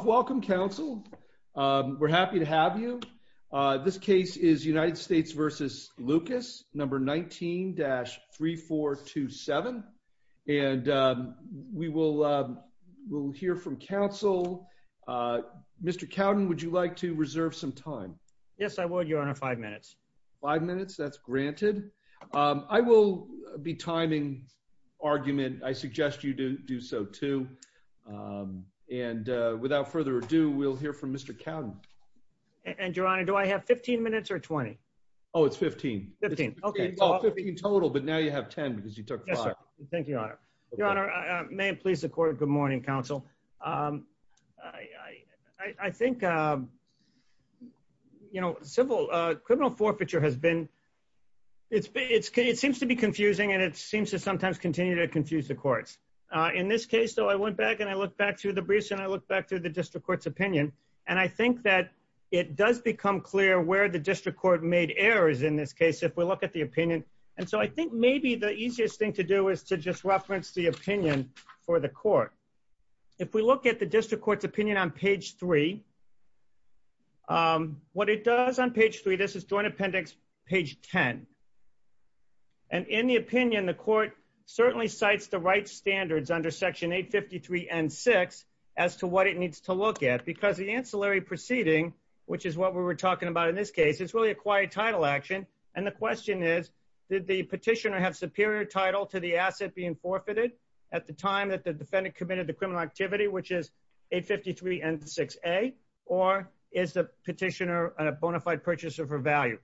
welcome counsel. We're happy to have you. This case is United States v. Lucas, number 19-3427. And we will hear from counsel. Mr. Cowden, would you like to reserve some time? Yes, I would your honor, five minutes. Five minutes, that's granted. I will be timing argument, I suggest you do so too. And without further ado, we'll hear from Mr. Cowden. And your honor, do I have 15 minutes or 20? Oh, it's 15. 15, okay. Well, 15 total, but now you have 10 because you took five. Thank you, your honor. Your honor, may it please the court. Good morning, counsel. I think, you know, civil criminal forfeiture has been, it seems to be confusing, and it seems to sometimes continue to confuse the courts. In this case, though, I went back and I looked back through the briefs and I looked back through the district court's opinion. And I think that it does become clear where the district court made errors in this case, if we look at the opinion. And so I think maybe the easiest thing to do is to just reference the opinion for the court. If we look at the district court's opinion on page three, what it does on page three, this is joint appendix, page 10. And in the opinion, the court certainly cites the right standards under section 853 and six as to what it needs to look at, because the ancillary proceeding, which is what we were talking about in this case, it's really a quiet title action. And the question is, did the petitioner have superior title to the asset being forfeited at the time that the defendant committed the criminal activity, which is 853 and 6A, or is the petitioner a bona fide purchaser for value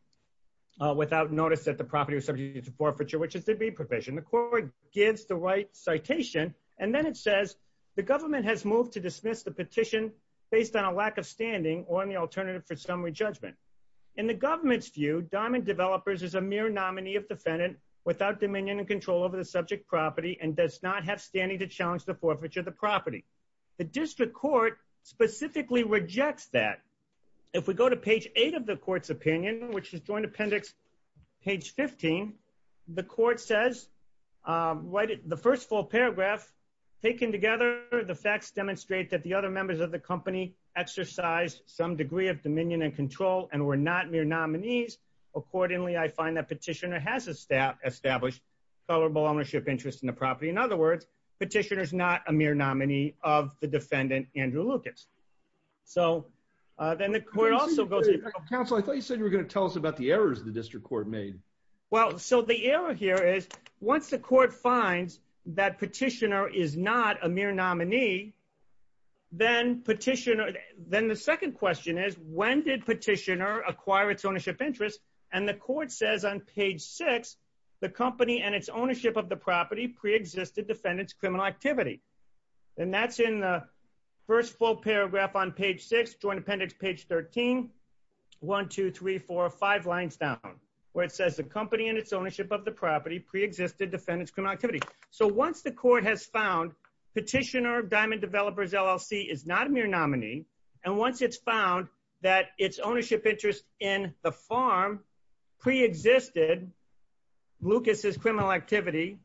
without notice that the property was subject to forfeiture, which is the B provision. The court gives the right citation, and then it says, the government has moved to dismiss the petition based on a lack of standing or on the alternative for summary judgment. In the government's view, Diamond Developers is a mere nominee of defendant without dominion and control over the subject property and does not have standing to challenge the forfeiture of the property. The district court specifically rejects that. If we go to page eight of the court's opinion, which is joint appendix, page 15, the court says, the first full paragraph, taken together, the facts demonstrate that the other members of the company exercise some degree of dominion and control and were not mere nominees. Accordingly, I find that petitioner has established tolerable ownership interest in the property. In other words, petitioner is not a mere nominee of the defendant, Andrew Lucas. So then the court also goes, counsel, I thought you said you were going to tell us about the errors the district court made. Well, so the error here is, once the court finds that petitioner is not a mere nominee, then petitioner, then the second question is, when did petitioner acquire its ownership interest? And the court says on page six, the company and its ownership of the joint appendix, page 13, one, two, three, four, five lines down, where it says the company and its ownership of the property pre-existed defendant's criminal activity. So once the court has found petitioner, Diamond Developers, LLC is not a mere nominee. And once it's found that its ownership interest in the farm pre-existed Lucas's criminal activity,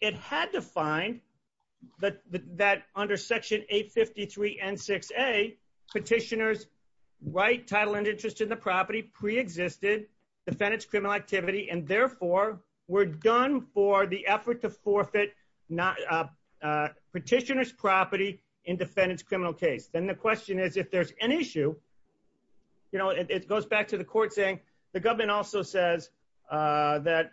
it had to find that under section 853 and 6A, petitioner's right title and interest in the property pre-existed defendant's criminal activity, and therefore were done for the effort to forfeit petitioner's property in defendant's criminal case. Then the question is, if there's an issue, you know, it goes back to the court saying, the government also says that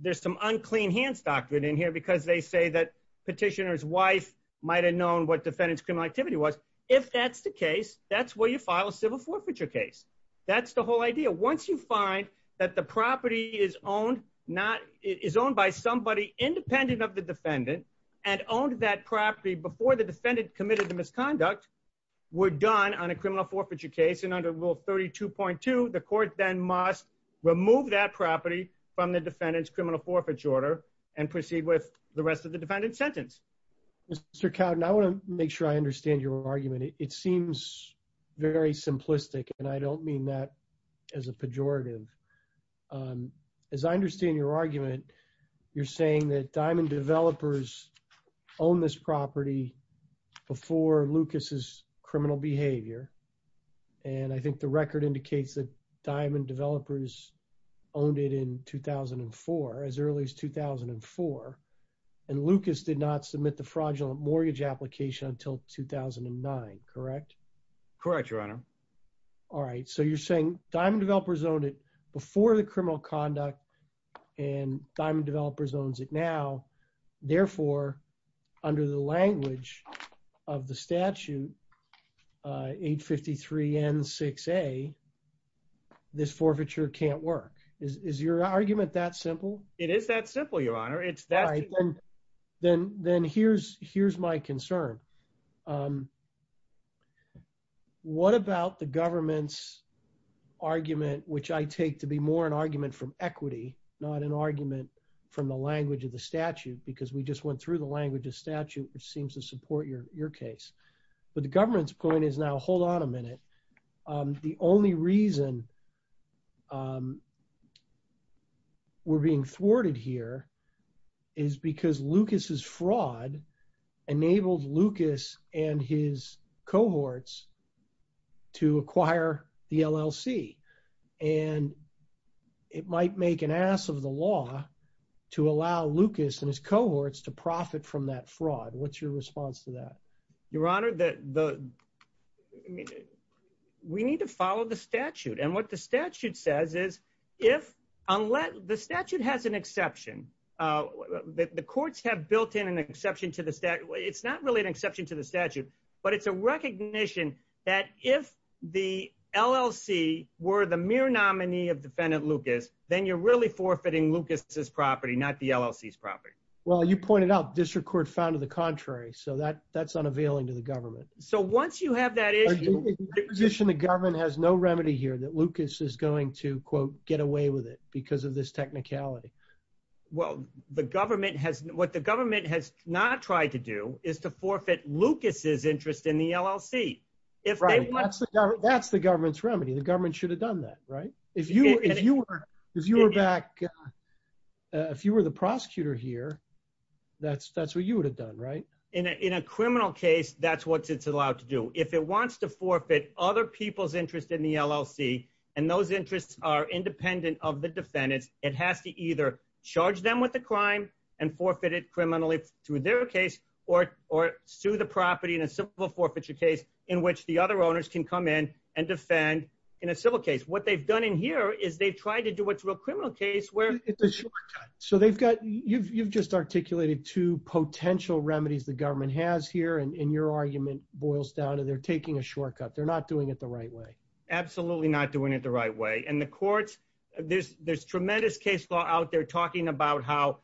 there's some clean hands doctrine in here because they say that petitioner's wife might have known what defendant's criminal activity was. If that's the case, that's where you file a civil forfeiture case. That's the whole idea. Once you find that the property is owned by somebody independent of the defendant and owned that property before the defendant committed the misconduct, were done on a criminal forfeiture case and under rule 32.2, the court then must remove that property from the defendant's criminal forfeiture order and proceed with the rest of the defendant's sentence. Mr. Cowden, I want to make sure I understand your argument. It seems very simplistic and I don't mean that as a pejorative. As I understand your argument, you're saying that Diamond developers owned this property before Lucas's criminal behavior. And I think the record indicates that Diamond developers owned it in 2004, as early as 2004. And Lucas did not submit the fraudulent mortgage application until 2009. Correct? Correct, your honor. All right. So you're saying Diamond developers owned it before the criminal conduct and Diamond developers owns it therefore, under the language of the statute 853 N6A, this forfeiture can't work. Is your argument that simple? It is that simple, your honor. Then here's my concern. What about the government's argument, which I take to be more an argument from equity, not an argument from the language of the statute, because we just went through the language of statute, which seems to support your case. But the government's point is now, hold on a minute. The only reason we're being thwarted here is because Lucas's fraud enabled Lucas and his cohorts to acquire the LLC. And it might make an ass of the law to allow Lucas and his cohorts to profit from that fraud. What's your response to that? Your honor, we need to follow the statute. And what the statute says is, unless the statute has an exception, the courts have built in an exception to the statute. It's not really an exception to the statute, but it's a recognition that if the LLC were the mere nominee of defendant Lucas, then you're really forfeiting Lucas's property, not the LLC's property. Well, you pointed out district court found to the contrary. So that's unavailing to the government. So once you have that issue, the government has no remedy here that Lucas is going to, quote, get away with it because of this technicality. Well, what the government has not tried to do is to forfeit Lucas's interest in the LLC. That's the government's remedy. The government should have done that, right? If you were the prosecutor here, that's what you would have done, right? In a criminal case, that's what it's allowed to do. If it wants to forfeit other people's in the LLC, and those interests are independent of the defendants, it has to either charge them with the crime and forfeit it criminally through their case or sue the property in a civil forfeiture case in which the other owners can come in and defend in a civil case. What they've done in here is they've tried to do what's a real criminal case where- It's a shortcut. So you've just articulated two potential remedies the government has here, and your argument boils down to they're taking a shortcut. They're not doing it the right way. Absolutely not doing it the right way. And the courts, there's tremendous case law out there talking about how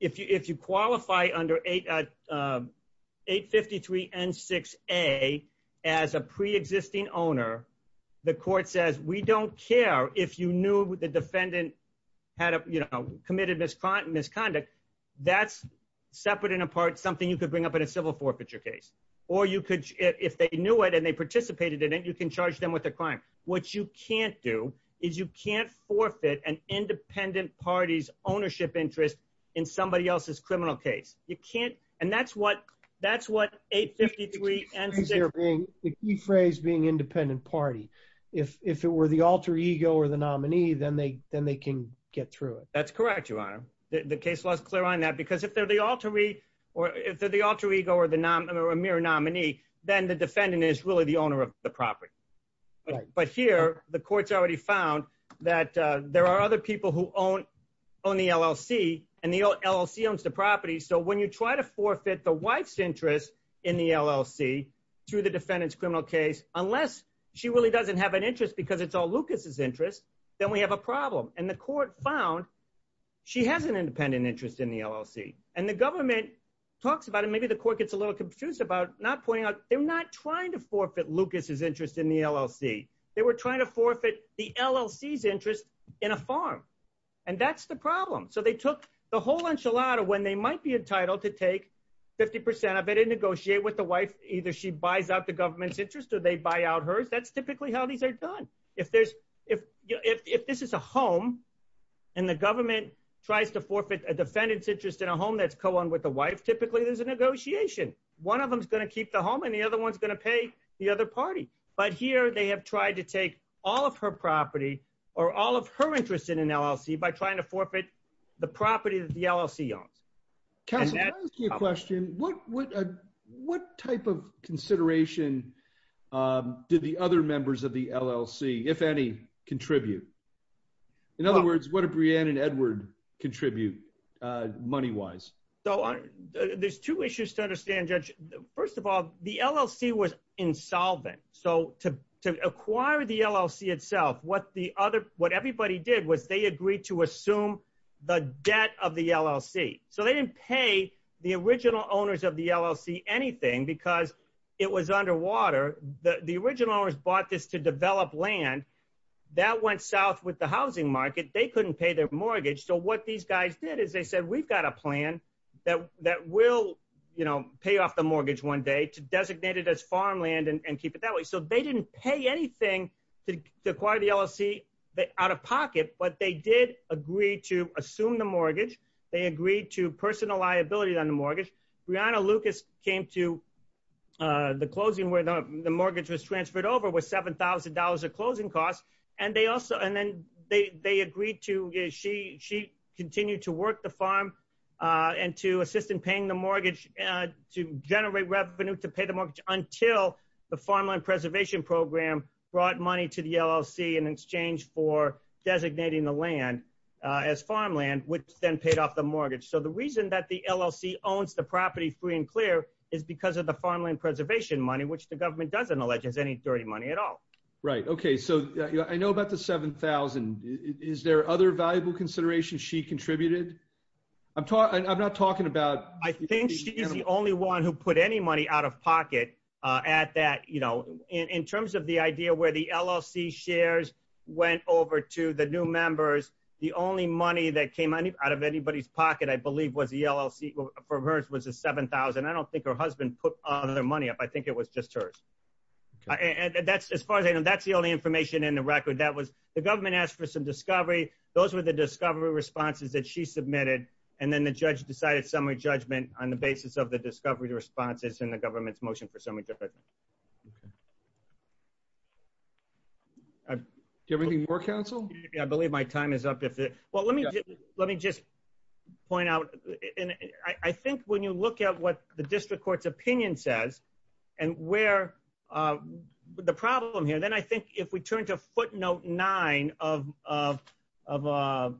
if you qualify under 853 N6A as a preexisting owner, the court says, we don't care if you knew the defendant committed misconduct, that's separate and apart something you could bring up in a civil forfeiture case. Or if they knew it and they participated in it, you can charge them with a crime. What you can't do is you can't forfeit an independent party's ownership interest in somebody else's criminal case. You can't, and that's what 853 N6- The key phrase being independent party. If it were the alter ego or the nominee, then they can get through it. That's correct, your honor. The case law is clear on that because if they're the alter ego or a mere nominee, then the defendant is really the owner of the property. But here, the courts already found that there are other people who own the LLC and the LLC owns the property. So when you try to forfeit the wife's interest in the LLC through the defendant's criminal case, unless she really doesn't have an interest because it's all Lucas's interest, then we have a problem. And the court found she has an independent interest in the LLC. And the government talks about it. Maybe the court gets a little confused about not pointing out they're not trying to forfeit Lucas's interest in the LLC. They were trying to forfeit the LLC's interest in a farm. And that's the problem. So they took the whole enchilada when they might be entitled to take 50% of it and negotiate with the wife. Either she buys out the government's interest or they buy out hers. That's typically how these are done. If this is a home and the that's co-owned with the wife, typically there's a negotiation. One of them's going to keep the home and the other one's going to pay the other party. But here they have tried to take all of her property or all of her interest in an LLC by trying to forfeit the property that the LLC owns. Counselor, can I ask you a question? What type of consideration did the other members of the LLC, if any, contribute? In other words, what did Brianne and Edward contribute money-wise? There's two issues to understand, Judge. First of all, the LLC was insolvent. So to acquire the LLC itself, what everybody did was they agreed to assume the debt of the LLC. So they didn't pay the original owners of the LLC anything because it was underwater. The original owners bought this to develop land. That went south with the housing market. They couldn't pay their mortgage. So what these guys did is they said, we've got a plan that will pay off the mortgage one day to designate it as farmland and keep it that way. So they didn't pay anything to acquire the LLC out of pocket, but they did agree to assume the mortgage. They agreed to personal liability on the mortgage. Brianna Lucas came to the closing where the mortgage was transferred over with $7,000 of closing costs. And then they agreed to, she continued to work the farm and to assist in paying the mortgage, to generate revenue to pay the mortgage until the Farmland Preservation Program brought money to the LLC in exchange for designating the land as farmland, which then paid off the mortgage. So the reason that the LLC owns the property free and clear is because of the farmland preservation money, which the government doesn't allege has any dirty money at all. Right. Okay. So I know about the 7,000, is there other valuable considerations she contributed? I'm talking, I'm not talking about. I think she's the only one who put any money out of pocket, uh, at that, you know, in, in terms of the idea where the LLC shares went over to the new members. The only money that came out of anybody's pocket, I believe was the LLC for hers was a 7,000. I don't think her husband put all their money up. I think it was just hers. And that's as far as I know, that's the only information in the record that was the government asked for some discovery. Those were the discovery responses that she submitted. And then the judge decided summary judgment on the basis of the discovery responses in the government's motion for summary judgment. I believe my time is up. Well, let me, let me just point out. And I think when you look at what the district court's opinion says and where, uh, the problem here, then I think if we turn to footnote nine of, of, of, uh,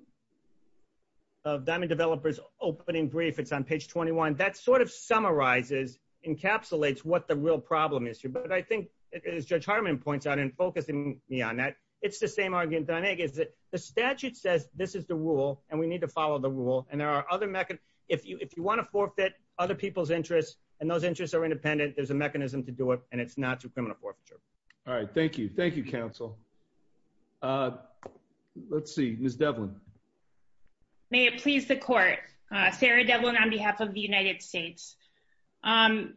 of diamond developers opening brief, it's on page 21, that sort of summarizes encapsulates what the real problem is here. But I think it is judge Harmon points out in focusing me on that. It's the same argument that I make is that the statute says, this is the rule and we need to follow the rule. And there are other mechanisms. If you, if you want to forfeit other people's interests and those interests are independent, there's a mechanism to do it. And it's not through criminal forfeiture. All right. Thank you. Thank you. Council. Uh, let's see, Ms. Devlin May it please the court, uh, Sarah Devlin on behalf of the United States. Um,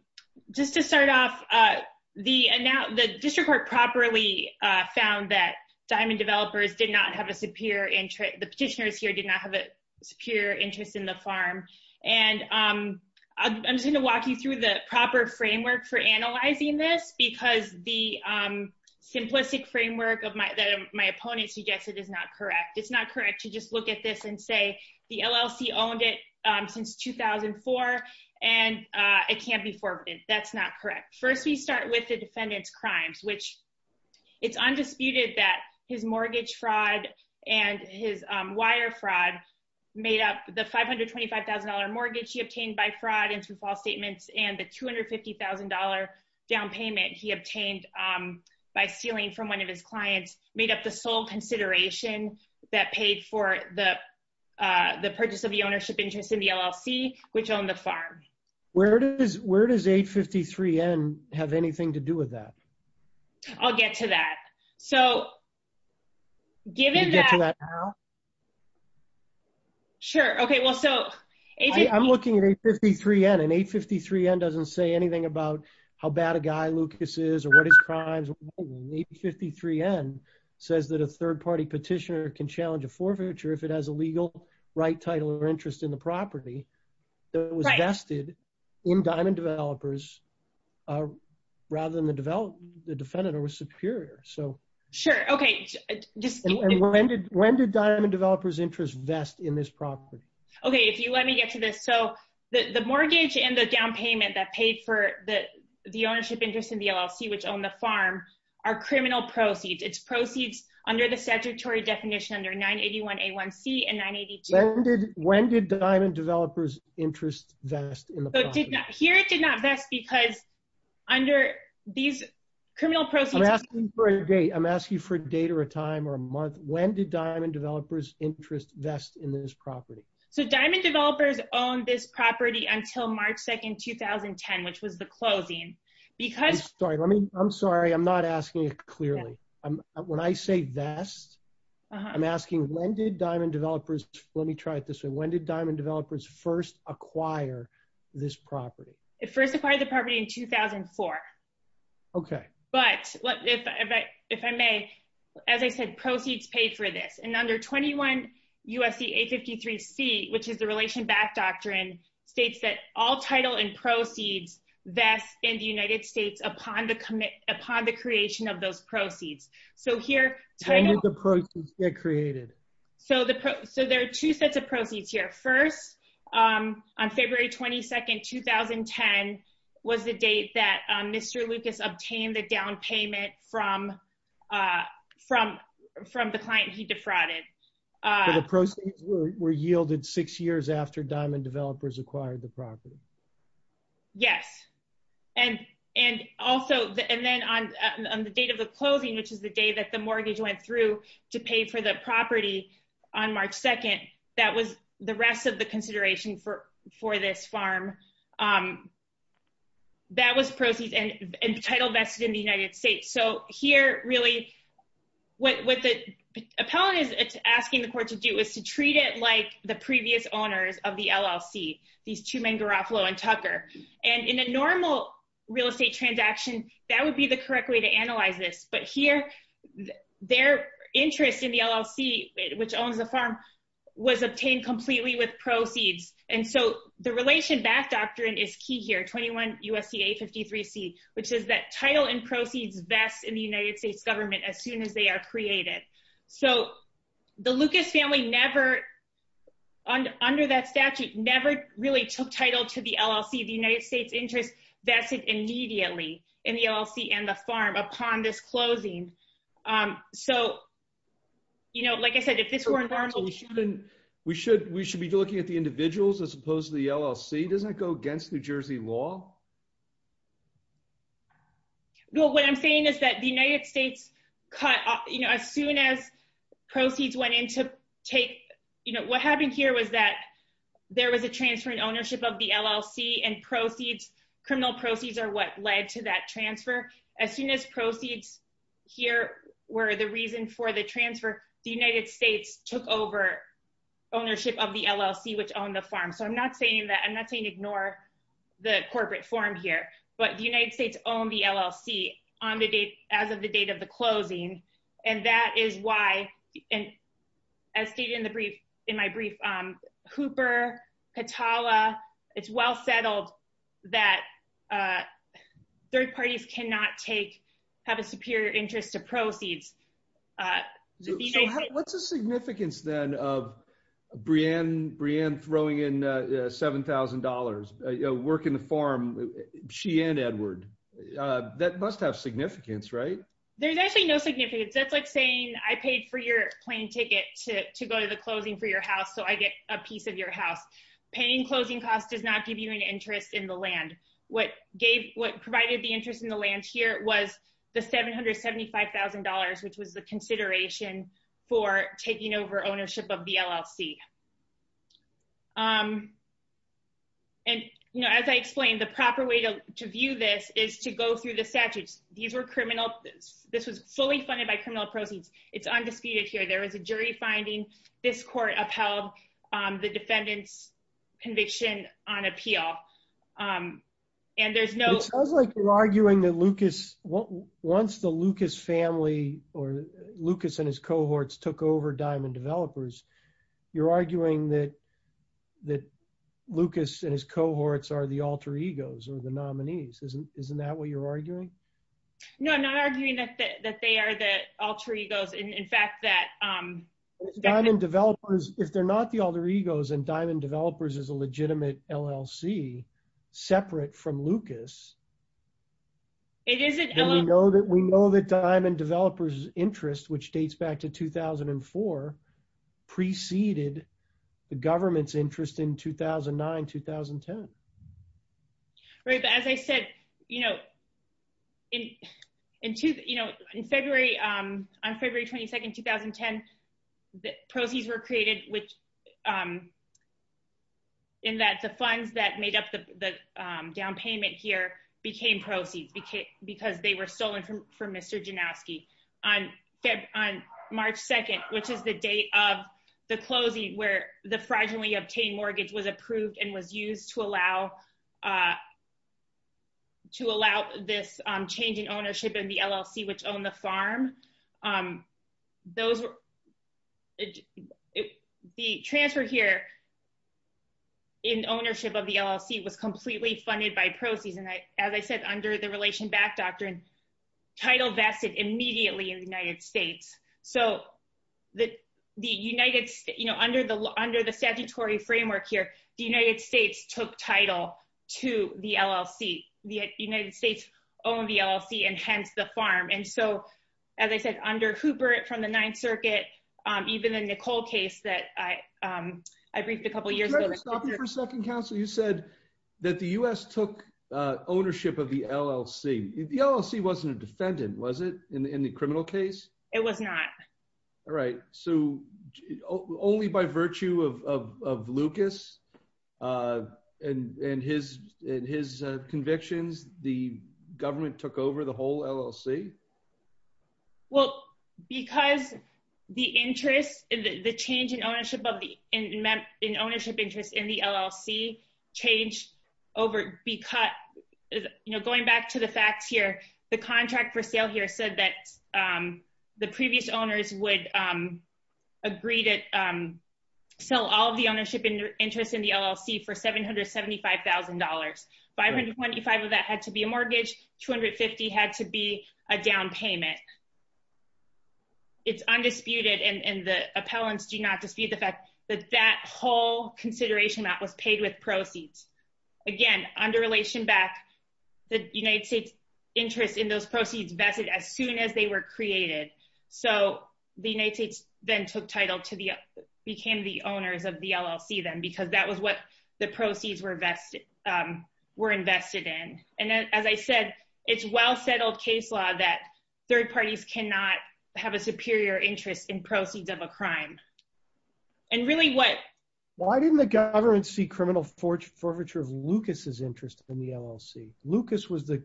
just to start off, uh, the, uh, now the district court properly, uh, found that diamond developers did not have a superior interest. The petitioners here did not have a superior interest in the farm. And, um, I'm just going to walk you through the proper framework for analyzing this because the, um, simplistic framework of my, that my opponent suggested is not correct. It's not correct to just look at this and say the LLC owned it, um, since 2004. And, uh, it can't be forbidden. That's not correct. First, we start with the defendant's crimes, which it's undisputed that his mortgage fraud and his, um, wire fraud made up the $525,000 mortgage he obtained by fraud and through false statements and the $250,000 down payment he obtained, um, by stealing from one of his clients made up the sole consideration that paid for the, uh, the purchase of the ownership interest in the LLC, which owned the farm. Where does, where does 853N have anything to do with that? I'll get to that. So given that, sure. Okay. Well, so I'm looking at 853N and 853N doesn't say anything about how bad a guy Lucas is or what his crimes are. 853N says that a third party petitioner can challenge a forfeiture if it has a legal right title or interest in the property that was vested in Diamond Developers, uh, rather than the developer, the defendant or was superior. So sure. Okay. Just when did, when did Diamond Developers interest vest in this property? Okay. If you let me get to this. So the, the mortgage and the down payment that paid for the, the ownership interest in the LLC, which owned the farm are criminal proceeds. It's proceeds under the statutory definition under 981A1C and 982. When did, when did Diamond Developers interest vest in the property? Here it did not vest because under these criminal proceeds. I'm asking for a date. I'm asking for a date or a time or a month. When did Diamond Developers interest vest in this property? So Diamond Developers owned this property until March 2nd, 2010, which was the closing. Because, sorry, let me, I'm sorry. I'm not asking it clearly. When I say vest, I'm asking when did Diamond Developers, let me try it this way. When did Diamond Developers first acquire this property? It first acquired the property in 2004. Okay. But if I, if I may, as I said, proceeds paid for this in under 21 U.S.C. 853C, which is the relation back doctrine states that all title and proceeds vest in the United States upon the commit, upon the creation of those proceeds. So here title. When did the proceeds get created? So the, so there are two sets of proceeds here. First, on February 22nd, 2010 was the date that Mr. Lucas obtained the down payment from, from, from the client he defrauded. So the proceeds were yielded six years after Diamond Developers acquired the property? Yes. And, and also the, and then on the date of the closing, which is the day that the mortgage went through to pay for the property on March 2nd, that was the rest of the consideration for, for this farm. That was proceeds and title vested in the United States. And we have some, some questions about that, but, I just wanted to make sure that we're really, what the, what the appellant is asking the court to do is to treat it like the previous owners of the LLC, these two men Garofalo and Tucker. And in a normal real estate transaction, that would be the correct way to analyze this. But here, their interest in the LLC, which owns the farm was obtained completely with proceeds. And so the relation back doctrine is key here, 21 U.S.C.A. 53C, which is that title and proceeds vests in the United States government as soon as they are created. So the Lucas family never, under that statute, never really took title to the LLC. The United States interest vested immediately in the LLC and the farm upon this closing. So, you know, like I said, if this were normal, we shouldn't, we should, we should be looking at the individuals as opposed to the LLC. Doesn't it go against New Jersey law? Well, what I'm saying is that the United States cut off, you know, as soon as proceeds went into take, you know, what happened here was that there was a transfer in ownership of the LLC and proceeds, criminal proceeds are what led to that transfer. As soon as proceeds here were the reason for the transfer, the United States took over ownership of the LLC, which owned the farm. So I'm not saying that I'm not saying ignore the corporate form here, but the United States owned the LLC on the date, as of the date of the closing. And that is why, and as stated in the brief, in my brief, Hooper, Katala, it's well settled that third parties cannot take, have a superior interest to proceeds. So what's the significance then of Brianne throwing in $7,000, work in the farm, she and Edward, that must have significance, right? There's actually no significance. That's like saying I paid for your plane ticket to go to the closing for your house. So I get a piece of your house. Paying closing costs does not give you an interest in the land. What provided the interest in the land here was the $775,000, which was the consideration for taking over ownership of the LLC. And, you know, as I explained, the proper way to view this is to go through the statutes. These were criminal, this was fully funded by criminal proceeds. It's undisputed here. There was a jury finding. This court upheld the defendant's conviction on appeal. And there's no- Lucas and his cohorts took over Diamond Developers. You're arguing that Lucas and his cohorts are the alter egos or the nominees. Isn't that what you're arguing? No, I'm not arguing that they are the alter egos. In fact, that- Diamond Developers, if they're not the alter egos and Diamond Developers is a legitimate LLC, separate from Lucas, we know that Diamond Developers' interest, which dates back to 2004, preceded the government's interest in 2009-2010. Right, but as I said, you know, in February, on February 22nd, 2010, the proceeds were created which, in that the funds that made up the down payment here became proceeds because they were stolen from Mr. Janowski. On March 2nd, which is the date of the closing where the fraudulently obtained mortgage was approved and was used to allow this change in ownership in the LLC which owned the farm, the transfer here in ownership of the LLC was completely funded by proceeds. And as I said, under the Relation Back Doctrine, title vested immediately in the United States. So the United States, you know, under the under the statutory framework here, the United States took title to the LLC. The United States owned the LLC, and hence the farm. And so, as I said, under Hubert from the Ninth Circuit, even the Nicole case that I briefed a couple years ago- Stop me for a second, counsel. You said that the U.S. took ownership of the LLC. The LLC wasn't a defendant, was it, in the criminal case? It was not. All right. So only by virtue of Lucas and his convictions, the government took over the whole LLC? Well, because the interest in the change in ownership of the- in ownership interest in the LLC changed over- because, you know, going back to the facts here, the contract for sale here said that the previous owners would agree to sell all of the ownership interest in the LLC for $775,000. $525,000 of that had to be a mortgage. $250,000 had to be a down payment. It's undisputed, and the appellants do not dispute the fact that that whole consideration was paid with proceeds. Again, under relation back, the United States interest in those proceeds vested as soon as they were created. So the United States then took title to the- became the owners of the LLC then, because that was what the proceeds were invested in. And then, as I said, it's well settled case law that third parties cannot have a superior interest in criminal forfeiture of Lucas's interest in the LLC. Lucas was the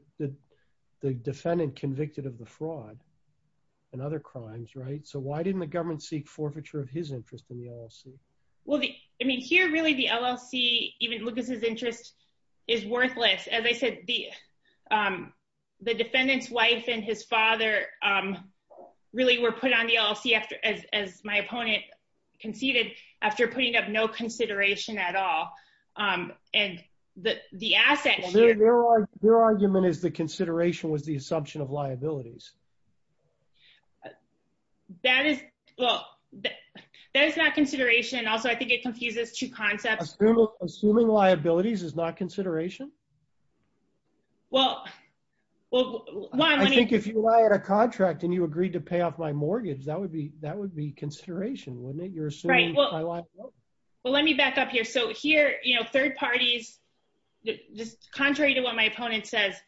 defendant convicted of the fraud and other crimes, right? So why didn't the government seek forfeiture of his interest in the LLC? Well, I mean, here really the LLC, even Lucas's interest, is worthless. As I said, the defendant's wife and his father really were put on the LLC after- as my opponent conceded, after putting up no consideration at all. And the asset- Well, their argument is the consideration was the assumption of liabilities. That is- well, that is not consideration. Also, I think it confuses two concepts. Assuming liabilities is not consideration? Well, well- I think if you lie at a contract and you agreed to pay off my mortgage, that would be- that would be consideration, wouldn't it? You're assuming- Right. Well, let me back up here. So here, you know, third parties, just contrary to what my opponent says,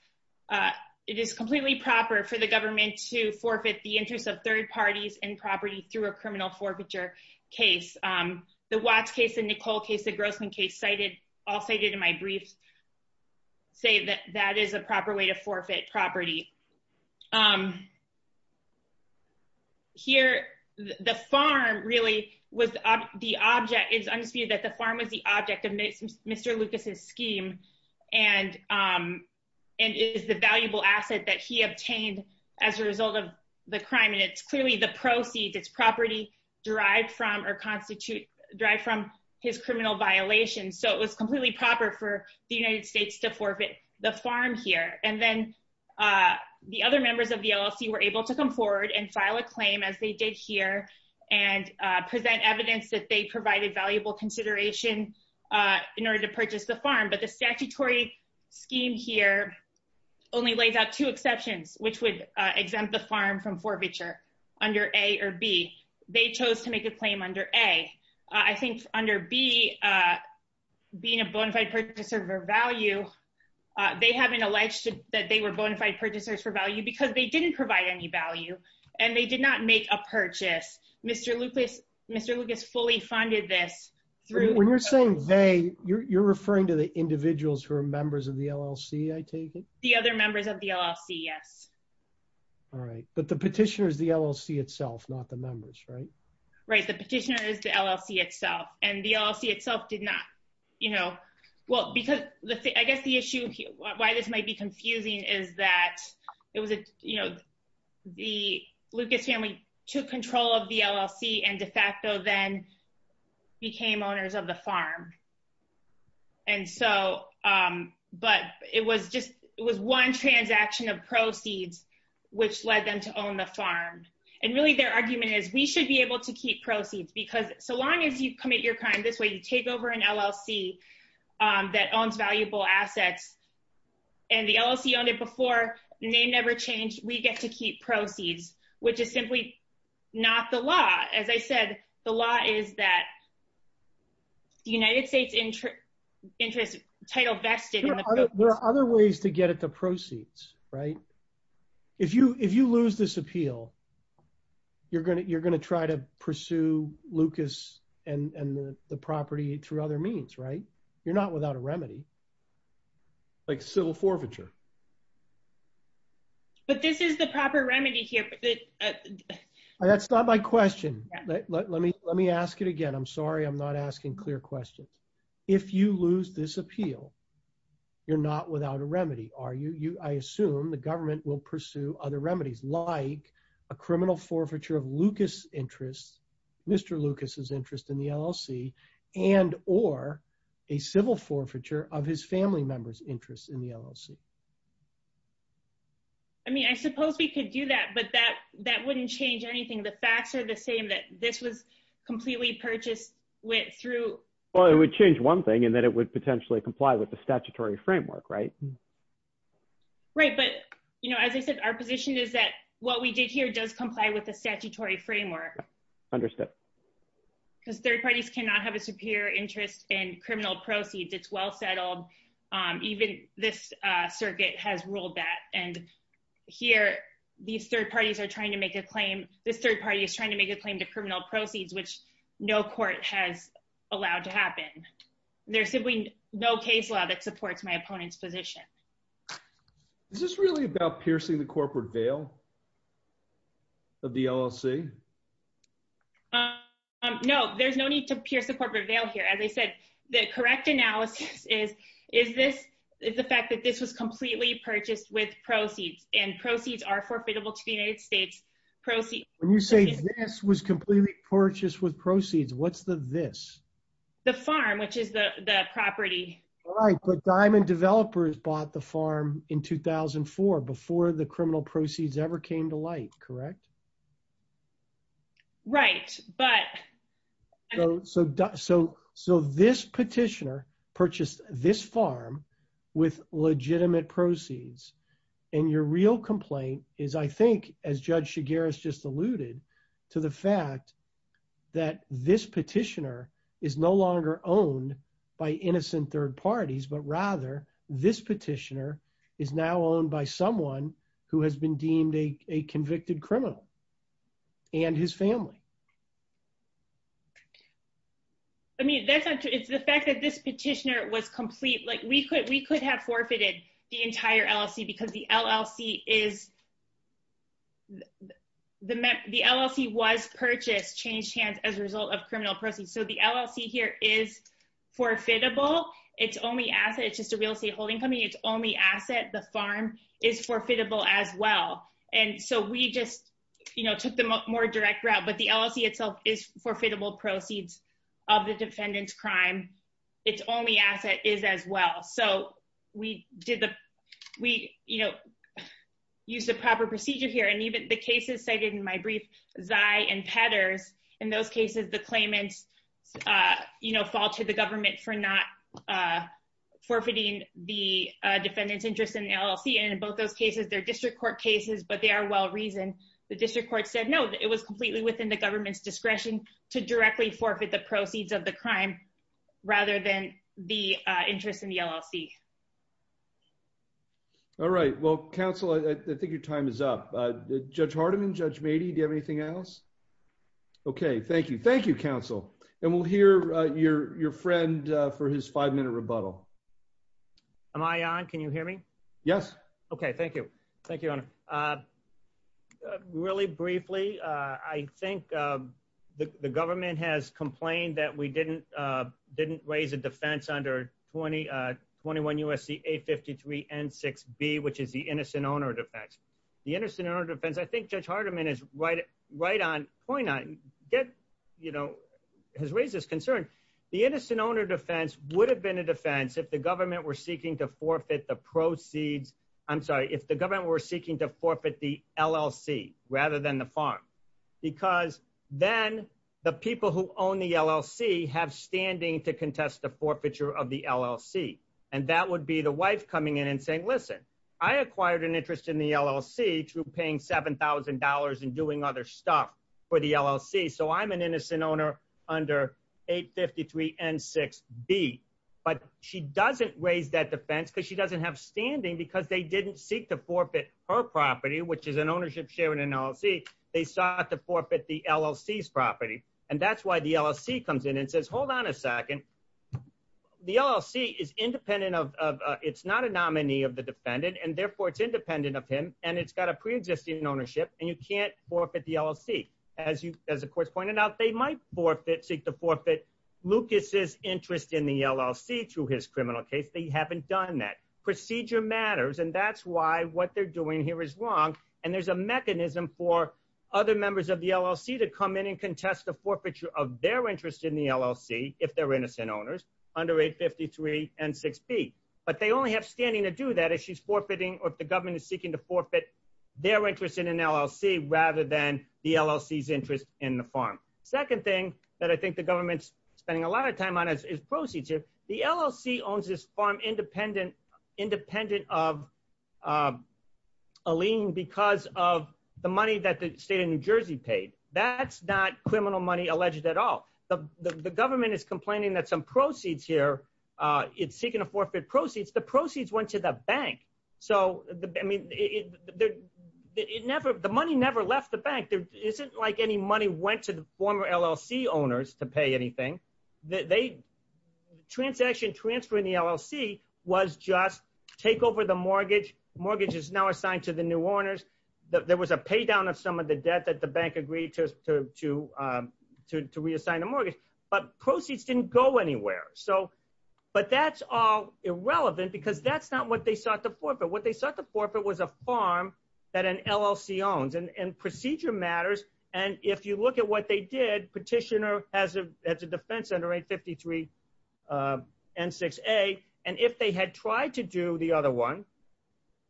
it is completely proper for the government to forfeit the interest of third parties in property through a criminal forfeiture case. The Watts case and Nicole case, the Grossman case cited- all cited in my brief say that that is a proper way to forfeit property. Here, the farm really was the object- it's undisputed that the farm was the object of Mr. Lucas's scheme and is the valuable asset that he obtained as a result of the crime. And it's clearly the proceeds, it's property derived from or constitute- derived from his criminal violations. So it was completely proper for the United States to forfeit the farm here. And then the other members of the LLC were able to come forward and file a claim as they did here and present evidence that they provided valuable consideration in order to purchase the farm. But the statutory scheme here only lays out two exceptions, which would exempt the farm from forfeiture under A or B. They chose to make a claim under A. I think under B, being a bona fide purchaser for value, they haven't alleged that they were bona fide purchasers for value because they didn't provide any value and they did not make a purchase. Mr. Lucas- Mr. Lucas fully funded this through- When you're saying they, you're referring to the individuals who are members of the LLC, I take it? The other members of the LLC, yes. All right, but the petitioner is the LLC itself, not the members, right? Right, the petitioner is the LLC itself. And the LLC itself did not, you know, well because I guess the issue why this might be confusing is that it was a, you know, the Lucas family took control of the LLC and de facto then became owners of the farm. And so, but it was just, it was one transaction of proceeds which led them to own the farm. And really their argument is we should be able to keep proceeds because so long as you commit your crime this way, you take over an LLC that owns valuable assets and the LLC owned it before, name never changed, we get to keep proceeds, which is simply not the law. As I said, the law is that the United States interest title vested in the- There are other ways to get at the proceeds, right? If you lose this appeal, you're going to try to pursue Lucas and the property through other means, right? You're not without a remedy. Like civil forfeiture. But this is the proper remedy here. That's not my question. Let me ask it again. I'm sorry, I'm not asking clear questions. If you lose this appeal, you're not without a remedy, are you? I assume the government will pursue other remedies like a criminal forfeiture of Lucas' interest, Mr. Lucas' interest in the LLC and or a civil forfeiture of his family member's interest in the LLC. I mean, I suppose we could do that, but that wouldn't change anything. The facts are the same that this was completely purchased through- Well, it would change one thing. But as I said, our position is that what we did here does comply with the statutory framework. Understood. Because third parties cannot have a superior interest in criminal proceeds. It's well settled. Even this circuit has ruled that. And here, these third parties are trying to make a claim. This third party is trying to make a claim to criminal proceeds, which no court has allowed to happen. There's simply no case law that supports my opponent's position. Is this really about piercing the corporate veil of the LLC? No, there's no need to pierce the corporate veil here. As I said, the correct analysis is the fact that this was completely purchased with proceeds and proceeds are forfeitable to the United States. When you say this was completely purchased with proceeds, what's the this? The farm, which is the property. All right. But Diamond Developers bought the farm in 2004 before the criminal proceeds ever came to light. Correct? Right. But- So this petitioner purchased this farm with legitimate proceeds. And your real complaint is, I think, as Judge Shigaris just alluded to the fact that this petitioner is no longer owned by innocent third parties, but rather this petitioner is now owned by someone who has been deemed a convicted criminal and his family. I mean, that's not true. It's the fact that this petitioner was complete. Like, we could have forfeited the entire LLC because the LLC was purchased, changed hands as a result of criminal proceeds. So the LLC here is forfeitable. It's only asset. It's just a real estate holding company. It's only asset. The farm is forfeitable as well. And so we just took the more direct route, but the LLC itself is forfeitable proceeds of the defendant's crime. It's only asset is as well. So we used the proper procedure here. And in those cases, the claimants fall to the government for not forfeiting the defendant's interest in the LLC. And in both those cases, they're district court cases, but they are well reasoned. The district court said, no, it was completely within the government's discretion to directly forfeit the proceeds of the crime rather than the interest in the LLC. All right. Well, counsel, I think your time is up. Judge Hardiman, Judge Mady, do you have anything else? Okay. Thank you. Thank you, counsel. And we'll hear your friend for his five-minute rebuttal. Am I on? Can you hear me? Yes. Okay. Thank you. Thank you, Your Honor. Really briefly, I think the government has complained that we didn't raise a defense under 21 U.S.C. A53 N6B, which is the innocent owner defense. The innocent owner defense, I think Judge Hardiman has raised this concern. The innocent owner defense would have been a defense if the government were seeking to forfeit the proceeds, I'm sorry, if the government were seeking to forfeit the LLC rather than the farm. Because then the people who own the LLC have standing to contest the forfeiture of the LLC. And that would be the wife coming in and saying, listen, I acquired an interest in the LLC through paying $7,000 and doing other stuff for the LLC. So I'm an innocent owner under 853 N6B. But she doesn't raise that defense because she doesn't have standing because they didn't seek to forfeit her property, which is an ownership share in an LLC. They sought to forfeit the LLC's property. And that's why the LLC comes in and says, hold on a minute, it's not a nominee of the defendant, and therefore it's independent of him, and it's got a preexisting ownership, and you can't forfeit the LLC. As the court's pointed out, they might seek to forfeit Lucas's interest in the LLC through his criminal case. They haven't done that. Procedure matters, and that's why what they're doing here is wrong. And there's a mechanism for other members of the LLC to come in and contest the forfeiture of their interest in the LLC if they're innocent owners under 853 N6B. But they only have standing to do that if she's forfeiting or if the government is seeking to forfeit their interest in an LLC rather than the LLC's interest in the farm. Second thing that I think the government's spending a lot of time on is procedure. The LLC owns this farm independent of a lien because of the money that the state of the government is complaining that some proceeds here, it's seeking to forfeit proceeds. The proceeds went to the bank. So, I mean, the money never left the bank. There isn't like any money went to the former LLC owners to pay anything. The transaction transfer in the LLC was just take over the mortgage. Mortgage is now assigned to the new owners. There was a pay down of some of the debt that the bank agreed to reassign the mortgage. But proceeds didn't go anywhere. But that's all irrelevant because that's not what they sought to forfeit. What they sought to forfeit was a farm that an LLC owns. And procedure matters. And if you look at what they did, petitioner has a defense under 853 N6A. And if they had tried to do the other one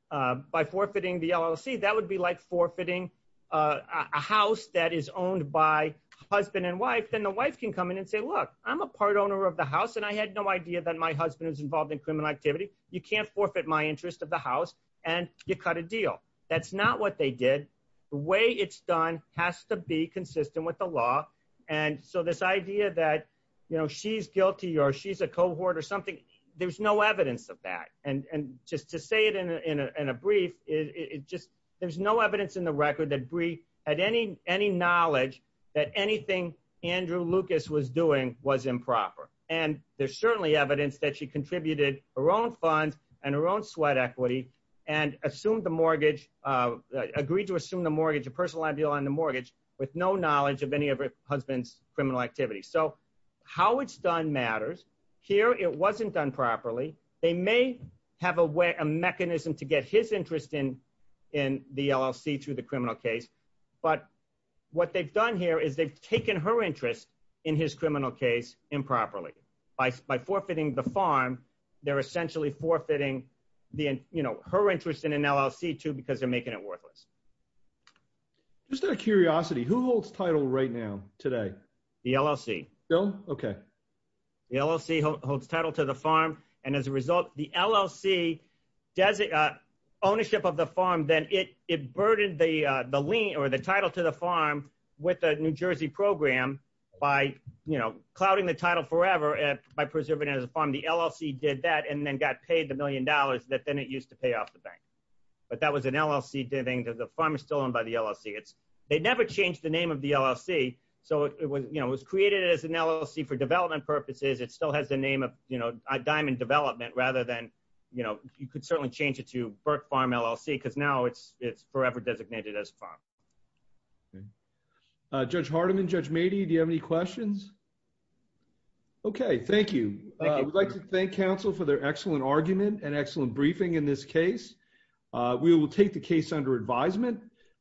by forfeiting the LLC, that would be like forfeiting a house that is owned by husband and wife, then the wife can come in and say, look, I'm a part owner of the house. And I had no idea that my husband was involved in criminal activity. You can't forfeit my interest of the house. And you cut a deal. That's not what they did. The way it's done has to be consistent with the law. And so this idea that, you know, she's guilty or she's a cohort or something, there's no evidence of that. And just to say it in a brief, it just, there's no evidence in the record that Brie had any knowledge that anything Andrew Lucas was doing was improper. And there's certainly evidence that she contributed her own funds and her own sweat equity and assumed the mortgage, agreed to assume the mortgage, a personal liability on the mortgage with no knowledge of any of her husband's criminal activity. So how it's done matters. Here, it wasn't done properly. They may have a way, a mechanism to get his interest in the LLC through the criminal case, but what they've done here is they've taken her interest in his criminal case improperly. By forfeiting the farm, they're essentially forfeiting the, you know, her interest in an LLC too, because they're making it worthless. Just out of curiosity, who holds title right now today? The LLC. The LLC holds title to the farm. And as a result, the LLC does ownership of the farm, then it burdened the lien or the title to the farm with the New Jersey program by, you know, clouding the title forever by preserving it as a farm. The LLC did that and then got paid the million dollars that then it used to pay off the bank. But that was an LLC, the farm is still owned by the LLC. It's, they never changed the name of the LLC. So it was, you know, it was created as an LLC for development purposes. It still has the name of, you know, a diamond development rather than, you know, you could certainly change it to Burke Farm LLC because now it's forever designated as a farm. Judge Hardiman, Judge Mady, do you have any questions? Okay, thank you. I'd like to thank counsel for their excellent argument and excellent briefing in this case. We will take the case under advisement.